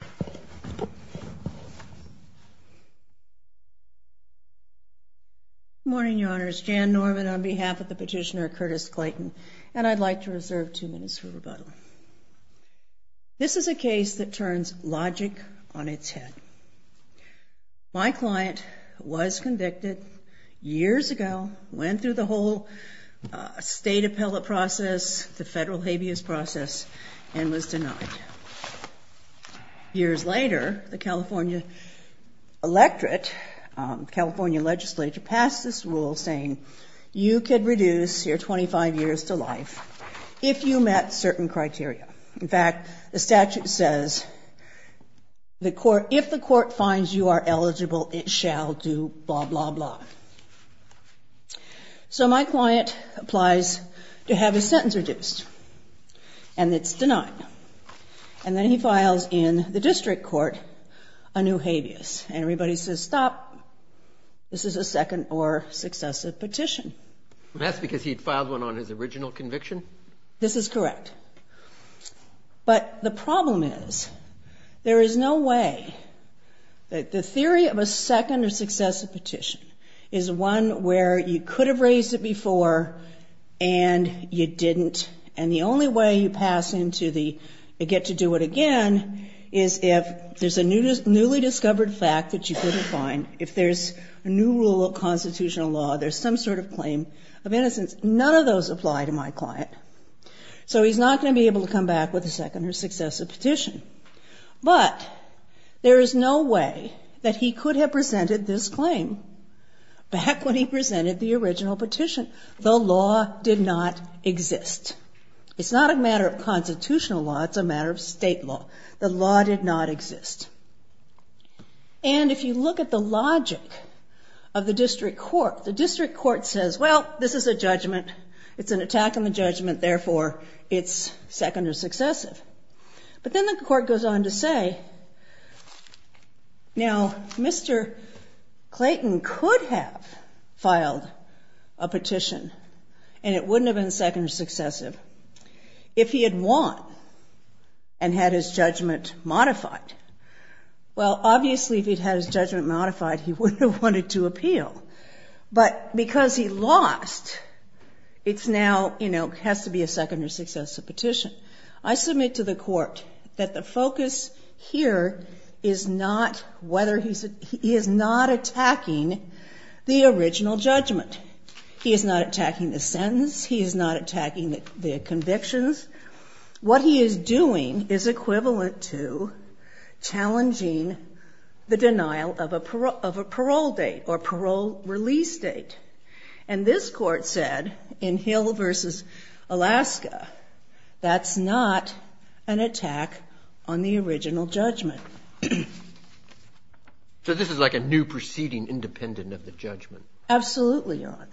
Good morning, your honors. Jan Norman on behalf of the petitioner Curtis Clayton, and I'd like to reserve two minutes for rebuttal. This is a case that turns logic on its head. My client was convicted years ago, went through the whole state appellate process, the federal habeas process, and was denied. Years later, the California electorate, California legislature, passed this rule saying you could reduce your 25 years to life if you met certain criteria. In fact, the statute says if the court finds you are eligible, it shall do blah, blah, blah. So my client applies to have his sentence reduced, and it's denied. And then he files in the district court a new habeas, and everybody says stop. This is a second or successive petition. That's because he had filed one on his original conviction? This is correct. But the problem is there is no way that the theory of a second or successive petition is one where you could have raised it before and you didn't, and the only way you pass into the get to do it again is if there's a newly discovered fact that you couldn't find. If there's a new rule of constitutional law, there's some sort of claim of innocence. None of those apply to my client. So he's not going to be able to come back with a second or successive petition. But there is no way that he could have presented this claim back when he presented the original petition. The law did not exist. It's not a matter of constitutional law. It's a matter of state law. The law did not exist. And if you look at the logic of the district court, the district court says, well, this is a judgment. It's an attack on the judgment. Therefore, it's second or successive. But then the court goes on to say, now, Mr. Clayton could have filed a petition and it wouldn't have been second or successive if he had won and had his judgment modified. Well, obviously, if he'd had his judgment modified, he wouldn't have wanted to appeal. But because he lost, it's now, you know, has to be a second or successive petition. I submit to the court that the focus here is not whether he's a he is not attacking the original judgment. He is not attacking the sentence. He is not attacking the convictions. What he is doing is equivalent to challenging the denial of a parole date or parole release date. And this court said in Hill v. Alaska, that's not an attack on the original judgment. So this is like a new proceeding independent of the judgment. Absolutely not.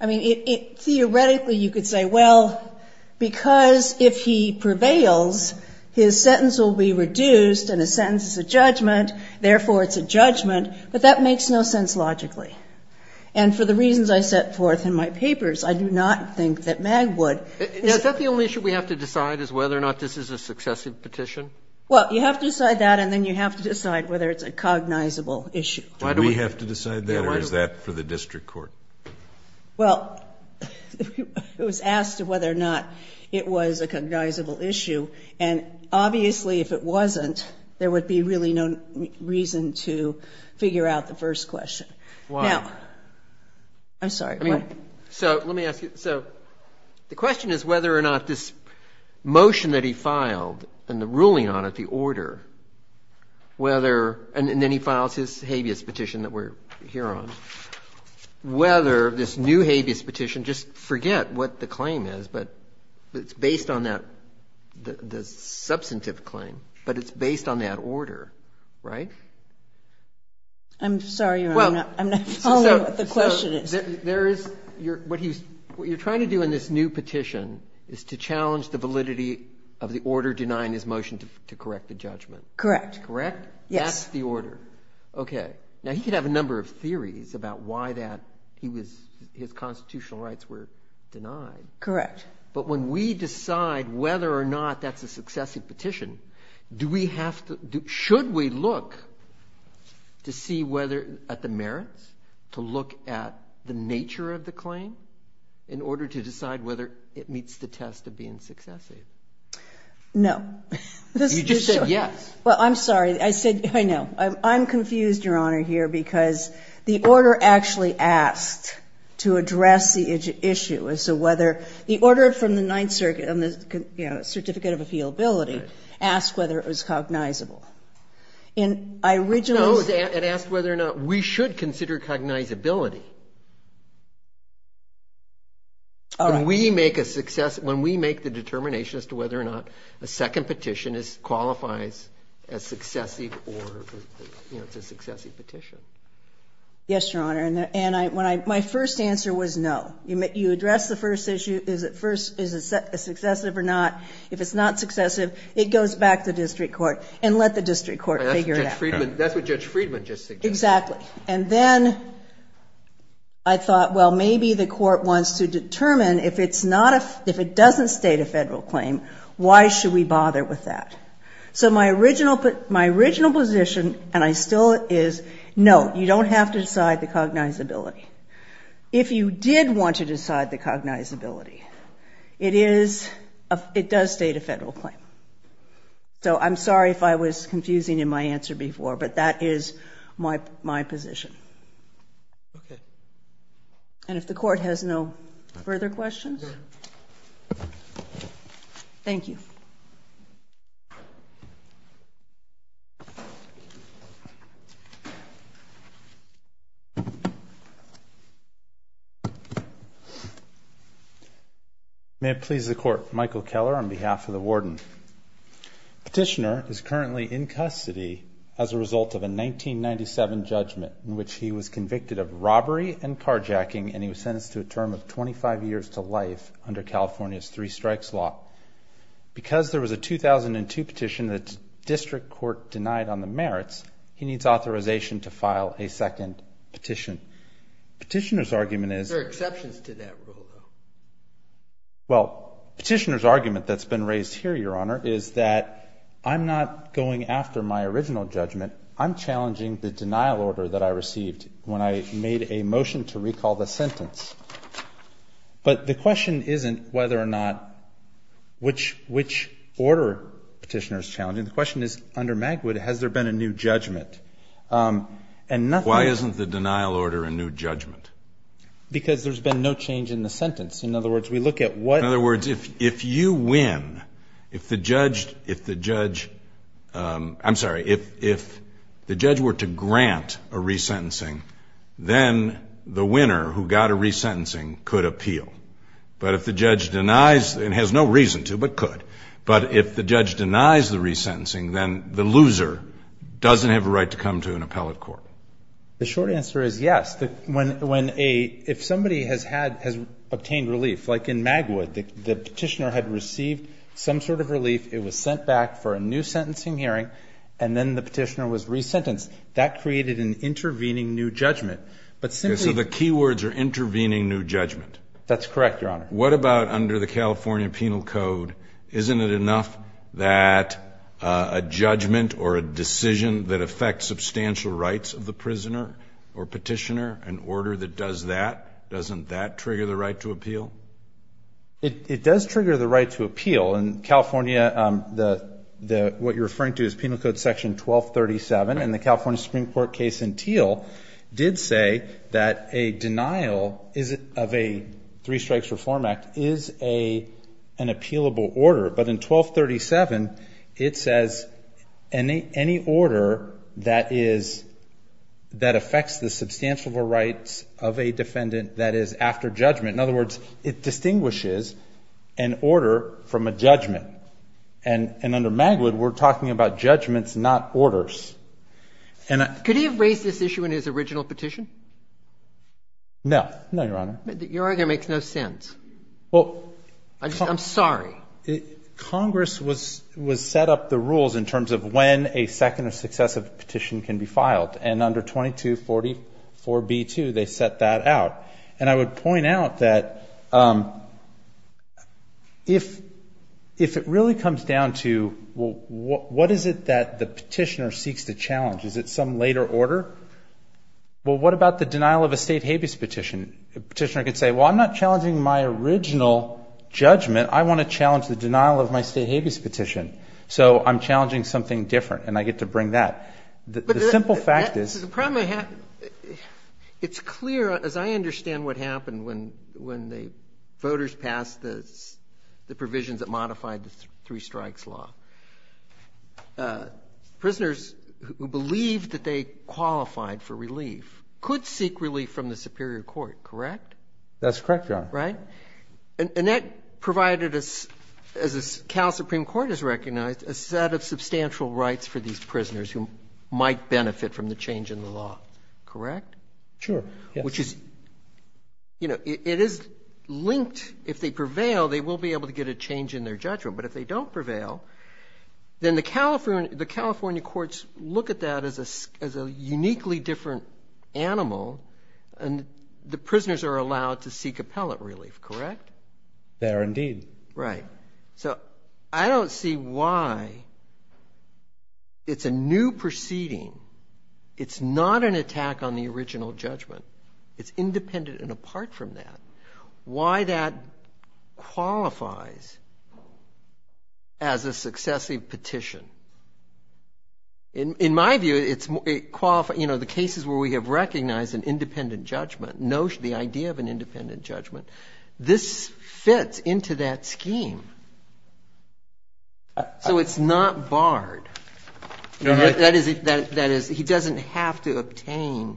I mean, theoretically, you could say, well, because if he prevails, his sentence will be reduced and his sentence is a judgment, therefore, it's a judgment. But that makes no sense logically. And for the reasons I set forth in my papers, I do not think that Magwood is the only issue we have to decide is whether or not this is a successive petition. Well, you have to decide that and then you have to decide whether it's a cognizable issue. Do we have to decide that or is that for the district court? Well, it was asked whether or not it was a cognizable issue. And obviously, if it wasn't, there would be really no reason to figure out the first question. Why? I'm sorry. So let me ask you. So the question is whether or not this motion that he filed and the ruling on it, the new habeas petition, just forget what the claim is, but it's based on that, the substantive claim, but it's based on that order, right? I'm sorry. I'm not following what the question is. There is, what you're trying to do in this new petition is to challenge the validity of the order denying his motion to correct the judgment. Correct. Yes. That's the order. Okay. Now, he could have a number of theories about why that he was, his constitutional rights were denied. Correct. But when we decide whether or not that's a successive petition, do we have to, should we look to see whether, at the merits, to look at the nature of the claim in order to decide whether it meets the test of being successive? No. You just said yes. Well, I'm sorry. I said, I know. I'm confused, Your Honor, here, because the order actually asked to address the issue as to whether, the order from the Ninth Circuit on the, you know, certificate of appealability asked whether it was cognizable. And I originally was. No, it asked whether or not we should consider cognizability. All right. When we make a success, when we make the determination as to whether or not a second petition is, qualifies as successive or, you know, it's a successive petition. Yes, Your Honor. And I, when I, my first answer was no. You address the first issue, is it first, is it successive or not. If it's not successive, it goes back to the district court and let the district court figure it out. That's what Judge Friedman just suggested. Exactly. And then I thought, well, maybe the court wants to determine if it's not a, if it is cognizable. And I was right with that. So my original, my original position and I still is, no, you don't have to decide the cognizability. If you did want to decide the cognizability, it is, it does state a federal claim. So I'm sorry if I was confusing in my answer before, but that is my, my position. Okay. And if the court has no further questions. Thank you. May it please the court. Michael Keller on behalf of the warden. Petitioner is currently in custody as a result of a 1997 judgment in which he was convicted of robbery and carjacking. And he was sentenced to a term of 25 years to life under California's three strikes law. Because there was a 2002 petition that district court denied on the merits, he needs authorization to file a second petition. Petitioner's argument is. There are exceptions to that rule though. Well, petitioner's argument that's been raised here, your honor, is that I'm not going after my original judgment. I'm challenging the denial order that I received when I made a motion to recall the sentence. But the question isn't whether or not which, which order petitioner is challenging. The question is under Magwood, has there been a new judgment? And nothing. Why isn't the denial order a new judgment? Because there's been no change in the sentence. In other words, we look at what. In other words, if you win, if the judge, if the judge, I'm sorry. If the judge were to grant a resentencing, then the winner who got a resentencing could appeal. But if the judge denies, and has no reason to, but could. But if the judge denies the resentencing, then the loser doesn't have a right to come to an appellate court. The short answer is yes. When a, if somebody has had, has obtained relief, like in Magwood, the petitioner had received some sort of relief. It was sent back for a new sentencing hearing. And then the petitioner was resentenced. That created an intervening new judgment. But simply. So the key words are intervening new judgment. That's correct, Your Honor. What about under the California Penal Code? Isn't it enough that a judgment or a decision that affects substantial rights of the prisoner or petitioner, an order that does that, doesn't that trigger the right to appeal? It, it does trigger the right to appeal. In California, the, the, what you're referring to is Penal Code Section 1237. And the California Supreme Court case in Teal did say that a denial is, of a Three Strikes Reform Act, is a, an appealable order. But in 1237, it says any, any order that is, that affects the substantial rights of a defendant that is after judgment. In other words, it distinguishes an order from a judgment. And, and under Magwood, we're talking about judgments, not orders. And I. Could he have raised this issue in his original petition? No. No, Your Honor. Your argument makes no sense. Well. I just, I'm sorry. Congress was, was set up the rules in terms of when a second or successive petition can be filed. And under 2244B2, they set that out. And I would point out that if, if it really comes down to, well, what, what is it that the petitioner seeks to challenge? Is it some later order? Well, what about the denial of a state habeas petition? A petitioner could say, well, I'm not challenging my original judgment. I want to challenge the denial of my state habeas petition. So I'm challenging something different. And I get to bring that. The simple fact is. The problem I have, it's clear as I understand what happened when, when the voters passed the, the provisions that modified the three strikes law. Prisoners who believed that they qualified for relief could seek relief from the superior court. Correct? That's correct, Your Honor. Right? And that provided us, as Cal Supreme Court has recognized, a set of substantial rights for these prisoners who might benefit from the change in the law. Correct? Sure. Which is, you know, it is linked. If they prevail, they will be able to get a change in their judgment. But if they don't prevail, then the California, the California courts look at that as a, as a uniquely different animal. And the prisoners are allowed to seek appellate relief. Correct? There indeed. Right. So, I don't see why it's a new proceeding. It's not an attack on the original judgment. It's independent and apart from that. Why that qualifies as a successive petition. In, in my view, it's, it qualifies, you know, the cases where we have recognized an independent judgment, notion, the idea of an independent judgment. This fits into that scheme. So, it's not barred. That is, that is, he doesn't have to obtain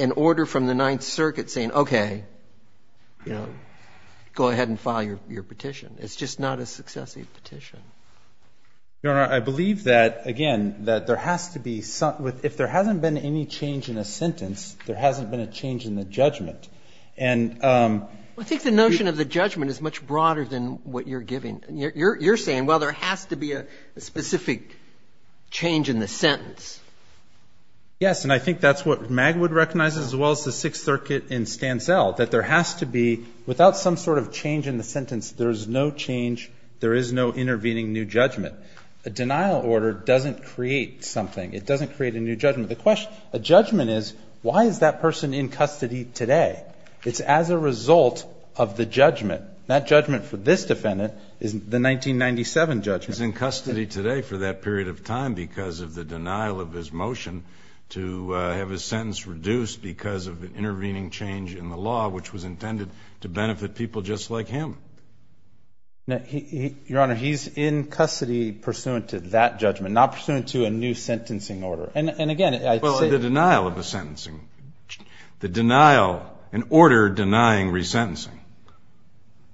an order from the Ninth Circuit saying, okay, you know, go ahead and file your, your petition. It's just not a successive petition. Your Honor, I believe that, again, that there has to be some, if there hasn't been any change in a sentence, there hasn't been a change in the judgment. And I think the notion of the judgment is much broader than what you're giving. You're, you're saying, well, there has to be a specific change in the sentence. Yes. And I think that's what Magwood recognizes as well as the Sixth Circuit in Stansell, that there has to be, without some sort of change in the sentence, there is no change, there is no intervening new judgment. A denial order doesn't create something. It doesn't create a new judgment. The question, a judgment is, why is that person in custody today? It's as a result of the judgment. That judgment for this defendant is the 1997 judgment. He's in custody today for that period of time because of the denial of his motion to have his sentence reduced because of an intervening change in the law, which was intended to benefit people just like him. Now, he, he, Your Honor, he's in custody pursuant to that judgment, not pursuant to a new sentencing order. And, and again, I say Well, the denial of a sentencing, the denial, an order denying resentencing.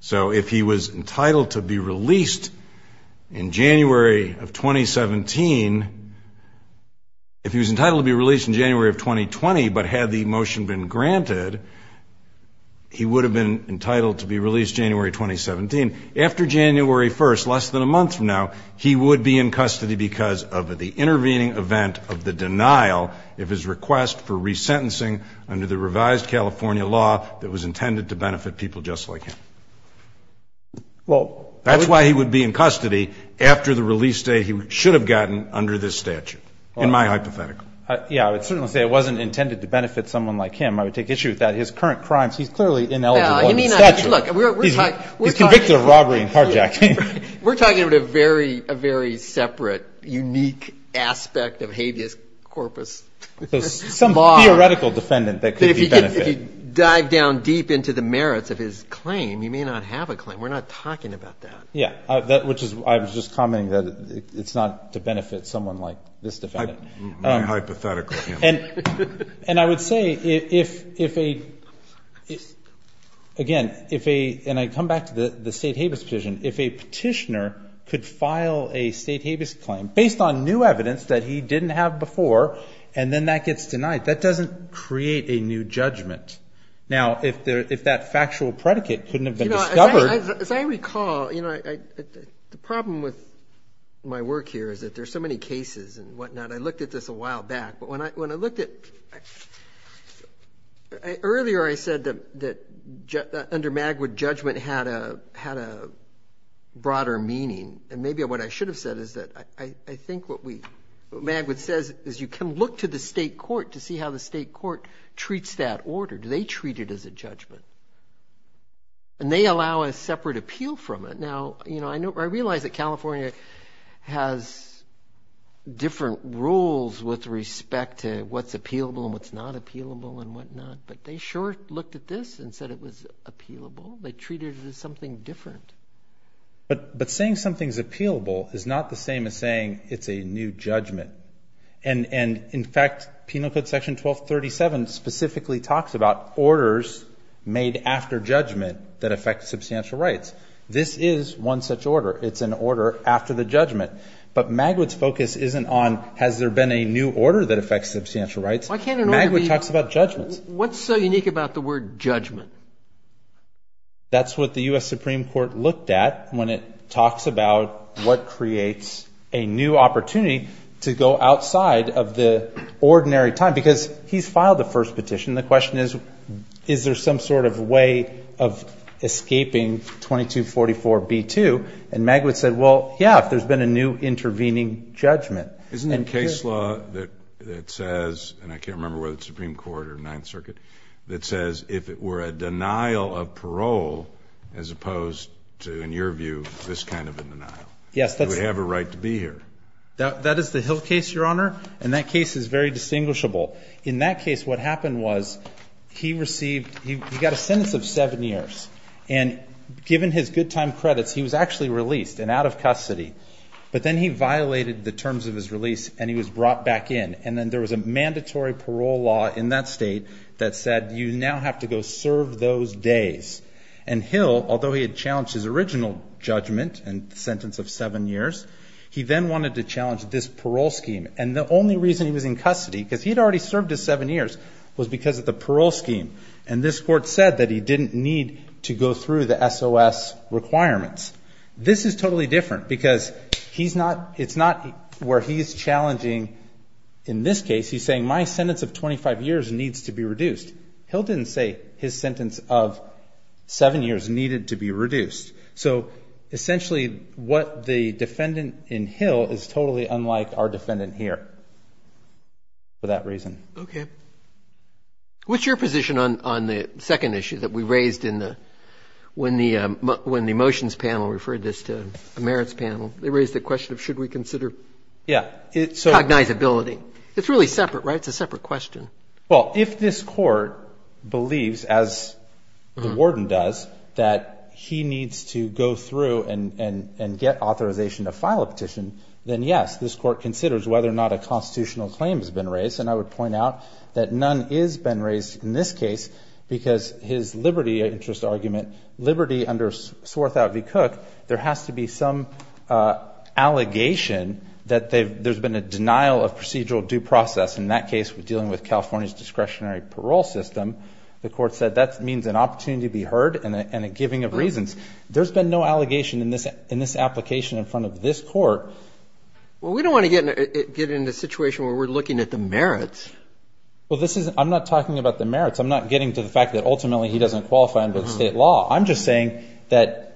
So if he was entitled to be released in January of 2017, if he was entitled to be released in January of 2020, but had the motion been granted, he would have been entitled to be released January 2017. After January 1st, less than a month from now, he would be in custody because of the intervening event of the denial of his request for resentencing under the revised California law that was intended to benefit people just like him. That's why he would be in custody after the release date he should have gotten under this statute, in my hypothetical. Yeah, I would certainly say it wasn't intended to benefit someone like him. I would take issue with that. His current crimes, he's clearly ineligible under the statute. He's convicted of robbery and carjacking. We're talking about a very, very separate, unique aspect of habeas corpus. Some theoretical defendant that could be benefited. If you dive down deep into the merits of his claim, he may not have a claim. We're not talking about that. Yeah, which is why I was just commenting that it's not to benefit someone like this defendant. My hypothetical. And I would say if a, again, if a, and I come back to the state habeas petition, if a petitioner could file a state habeas claim based on new evidence that he didn't have before and then that gets denied, that doesn't create a new judgment. Now, if that factual predicate couldn't have been discovered. As I recall, the problem with my work here is that there's so many cases and whatnot. I looked at this a while back. But when I looked at, earlier I said that under Magwood judgment had a broader meaning. And maybe what I should have said is that I think what Magwood says is you can look to the state court to see how the state court treats that order. Do they treat it as a judgment? And they allow a separate appeal from it. Now, I realize that California has different rules with respect to what's appealable and what's not appealable and whatnot. But they sure looked at this and said it was appealable. They treated it as something different. But saying something's appealable is not the same as saying it's a new judgment. And, in fact, Penal Code Section 1237 specifically talks about orders made after judgment that affect substantial rights. This is one such order. It's an order after the judgment. But Magwood's focus isn't on has there been a new order that affects substantial rights. Magwood talks about judgments. What's so unique about the word judgment? That's what the U.S. Supreme Court looked at when it talks about what creates a new opportunity to go outside of the ordinary time. Because he's filed the first petition. The question is, is there some sort of way of escaping 2244B2? And Magwood said, well, yeah, if there's been a new intervening judgment. Isn't there a case law that says, and I can't remember whether it's the Supreme Court or the Ninth Circuit, that says if it were a denial of parole as opposed to, in your view, this kind of a denial, you would have a right to be here? That is the Hill case, Your Honor. And that case is very distinguishable. In that case, what happened was he received he got a sentence of seven years. And given his good time credits, he was actually released and out of custody. But then he violated the terms of his release, and he was brought back in. And then there was a mandatory parole law in that state that said you now have to go serve those days. And Hill, although he had challenged his original judgment and sentence of seven years, he then wanted to challenge this parole scheme. And the only reason he was in custody, because he had already served his seven years, was because of the parole scheme. And this Court said that he didn't need to go through the SOS requirements. This is totally different because it's not where he's challenging. In this case, he's saying my sentence of 25 years needs to be reduced. Hill didn't say his sentence of seven years needed to be reduced. So essentially what the defendant in Hill is totally unlike our defendant here for that reason. Okay. What's your position on the second issue that we raised when the motions panel referred this to the merits panel? They raised the question of should we consider cognizability. It's really separate, right? It's a separate question. Well, if this Court believes, as the warden does, that he needs to go through and get authorization to file a petition, then, yes, this Court considers whether or not a constitutional claim has been raised. And I would point out that none has been raised in this case because his liberty interest argument, liberty under Swarthout v. Cook, there has to be some allegation that there's been a denial of procedural due process. In that case, we're dealing with California's discretionary parole system. The Court said that means an opportunity to be heard and a giving of reasons. There's been no allegation in this application in front of this Court. Well, we don't want to get in a situation where we're looking at the merits. Well, I'm not talking about the merits. I'm not getting to the fact that ultimately he doesn't qualify under the state law. I'm just saying that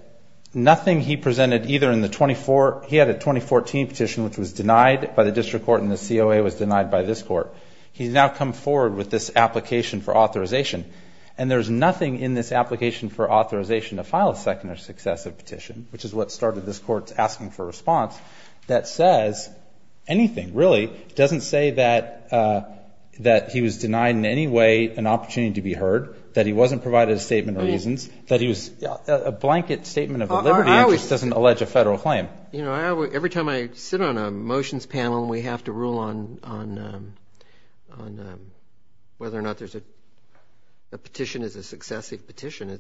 nothing he presented either in the 2014 petition, which was denied by the district court and the COA was denied by this court, he's now come forward with this application for authorization. And there's nothing in this application for authorization to file a second or successive petition, which is what started this Court's asking for a response, that says anything, really. It doesn't say that he was denied in any way an opportunity to be heard, that he wasn't provided a statement of reasons, that he was a blanket statement of a liberty interest doesn't allege a federal claim. You know, every time I sit on a motions panel and we have to rule on whether or not there's a petition is a successive petition,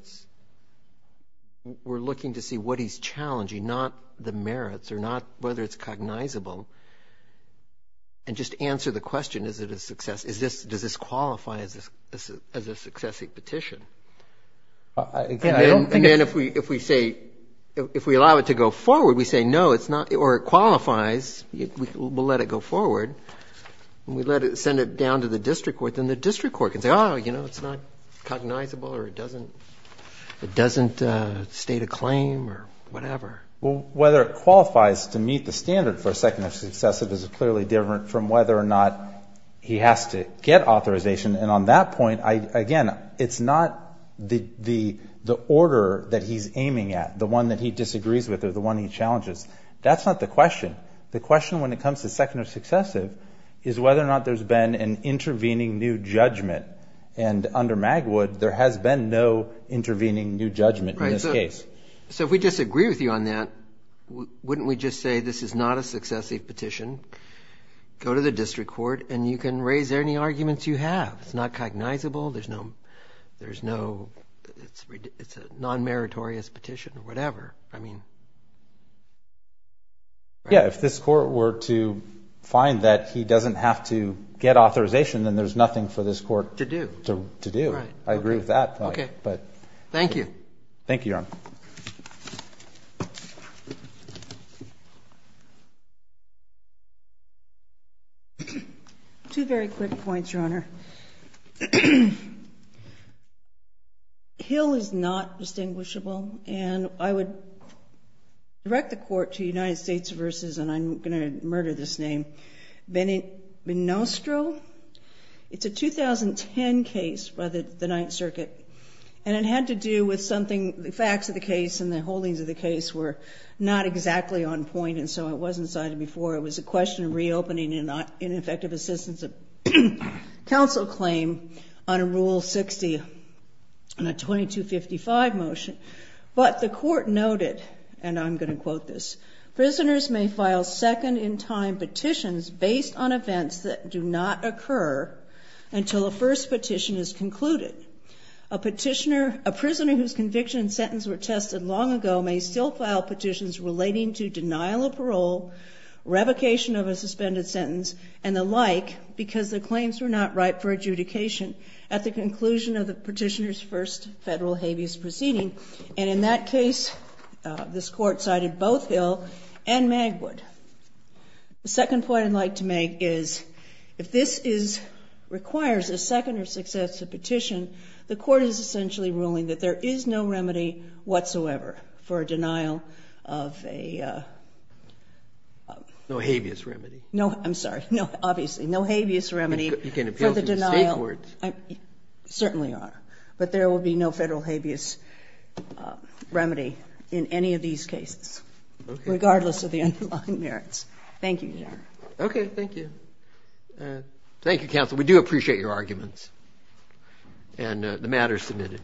we're looking to see what he's challenging, not the merits or not whether it's cognizable, and just answer the question, is it a success? Does this qualify as a successive petition? And then if we say, if we allow it to go forward, we say, no, it's not, or it qualifies, we'll let it go forward, and we let it, send it down to the district court, then the district court can say, oh, you know, it's not cognizable or it doesn't state a claim or whatever. Well, whether it qualifies to meet the standard for a second or successive is clearly different from whether or not he has to get authorization, and on that point, again, it's not the order that he's aiming at, the one that he disagrees with or the one he challenges. That's not the question. The question when it comes to second or successive is whether or not there's been an intervening new judgment, and under Magwood, there has been no intervening new judgment in this case. Okay. So if we disagree with you on that, wouldn't we just say this is not a successive petition, go to the district court, and you can raise any arguments you have. It's not cognizable. There's no, it's a non-meritorious petition or whatever. Yeah, if this court were to find that he doesn't have to get authorization, then there's nothing for this court to do. Right. I agree with that. Okay. Thank you. Thank you, Your Honor. Two very quick points, Your Honor. Hill is not distinguishable, and I would direct the court to United States versus, and I'm going to murder this name, Benistro. It's a 2010 case by the Ninth Circuit, and it had to do with something, the facts of the case and the holdings of the case were not exactly on point, and so it wasn't cited before. It was a question of reopening an ineffective assistance of counsel claim on a Rule 60, on a 2255 motion. But the court noted, and I'm going to quote this, prisoners may file second-in-time petitions based on events that do not occur until a first petition is concluded. A prisoner whose conviction and sentence were tested long ago may still file petitions relating to denial of parole, revocation of a suspended sentence, and the like, because the claims were not ripe for adjudication at the conclusion of the petitioner's first federal habeas proceeding. And in that case, this court cited both Hill and Magwood. The second point I'd like to make is, if this requires a second or successive petition, the court is essentially ruling that there is no remedy whatsoever for a denial of a... No habeas remedy. No, I'm sorry. Obviously, no habeas remedy for the denial. You can appeal to state courts. Certainly are. But there will be no federal habeas remedy in any of these cases, regardless of the underlying merits. Thank you, Your Honor. Okay, thank you. Thank you, counsel. We do appreciate your arguments. And the matter is submitted.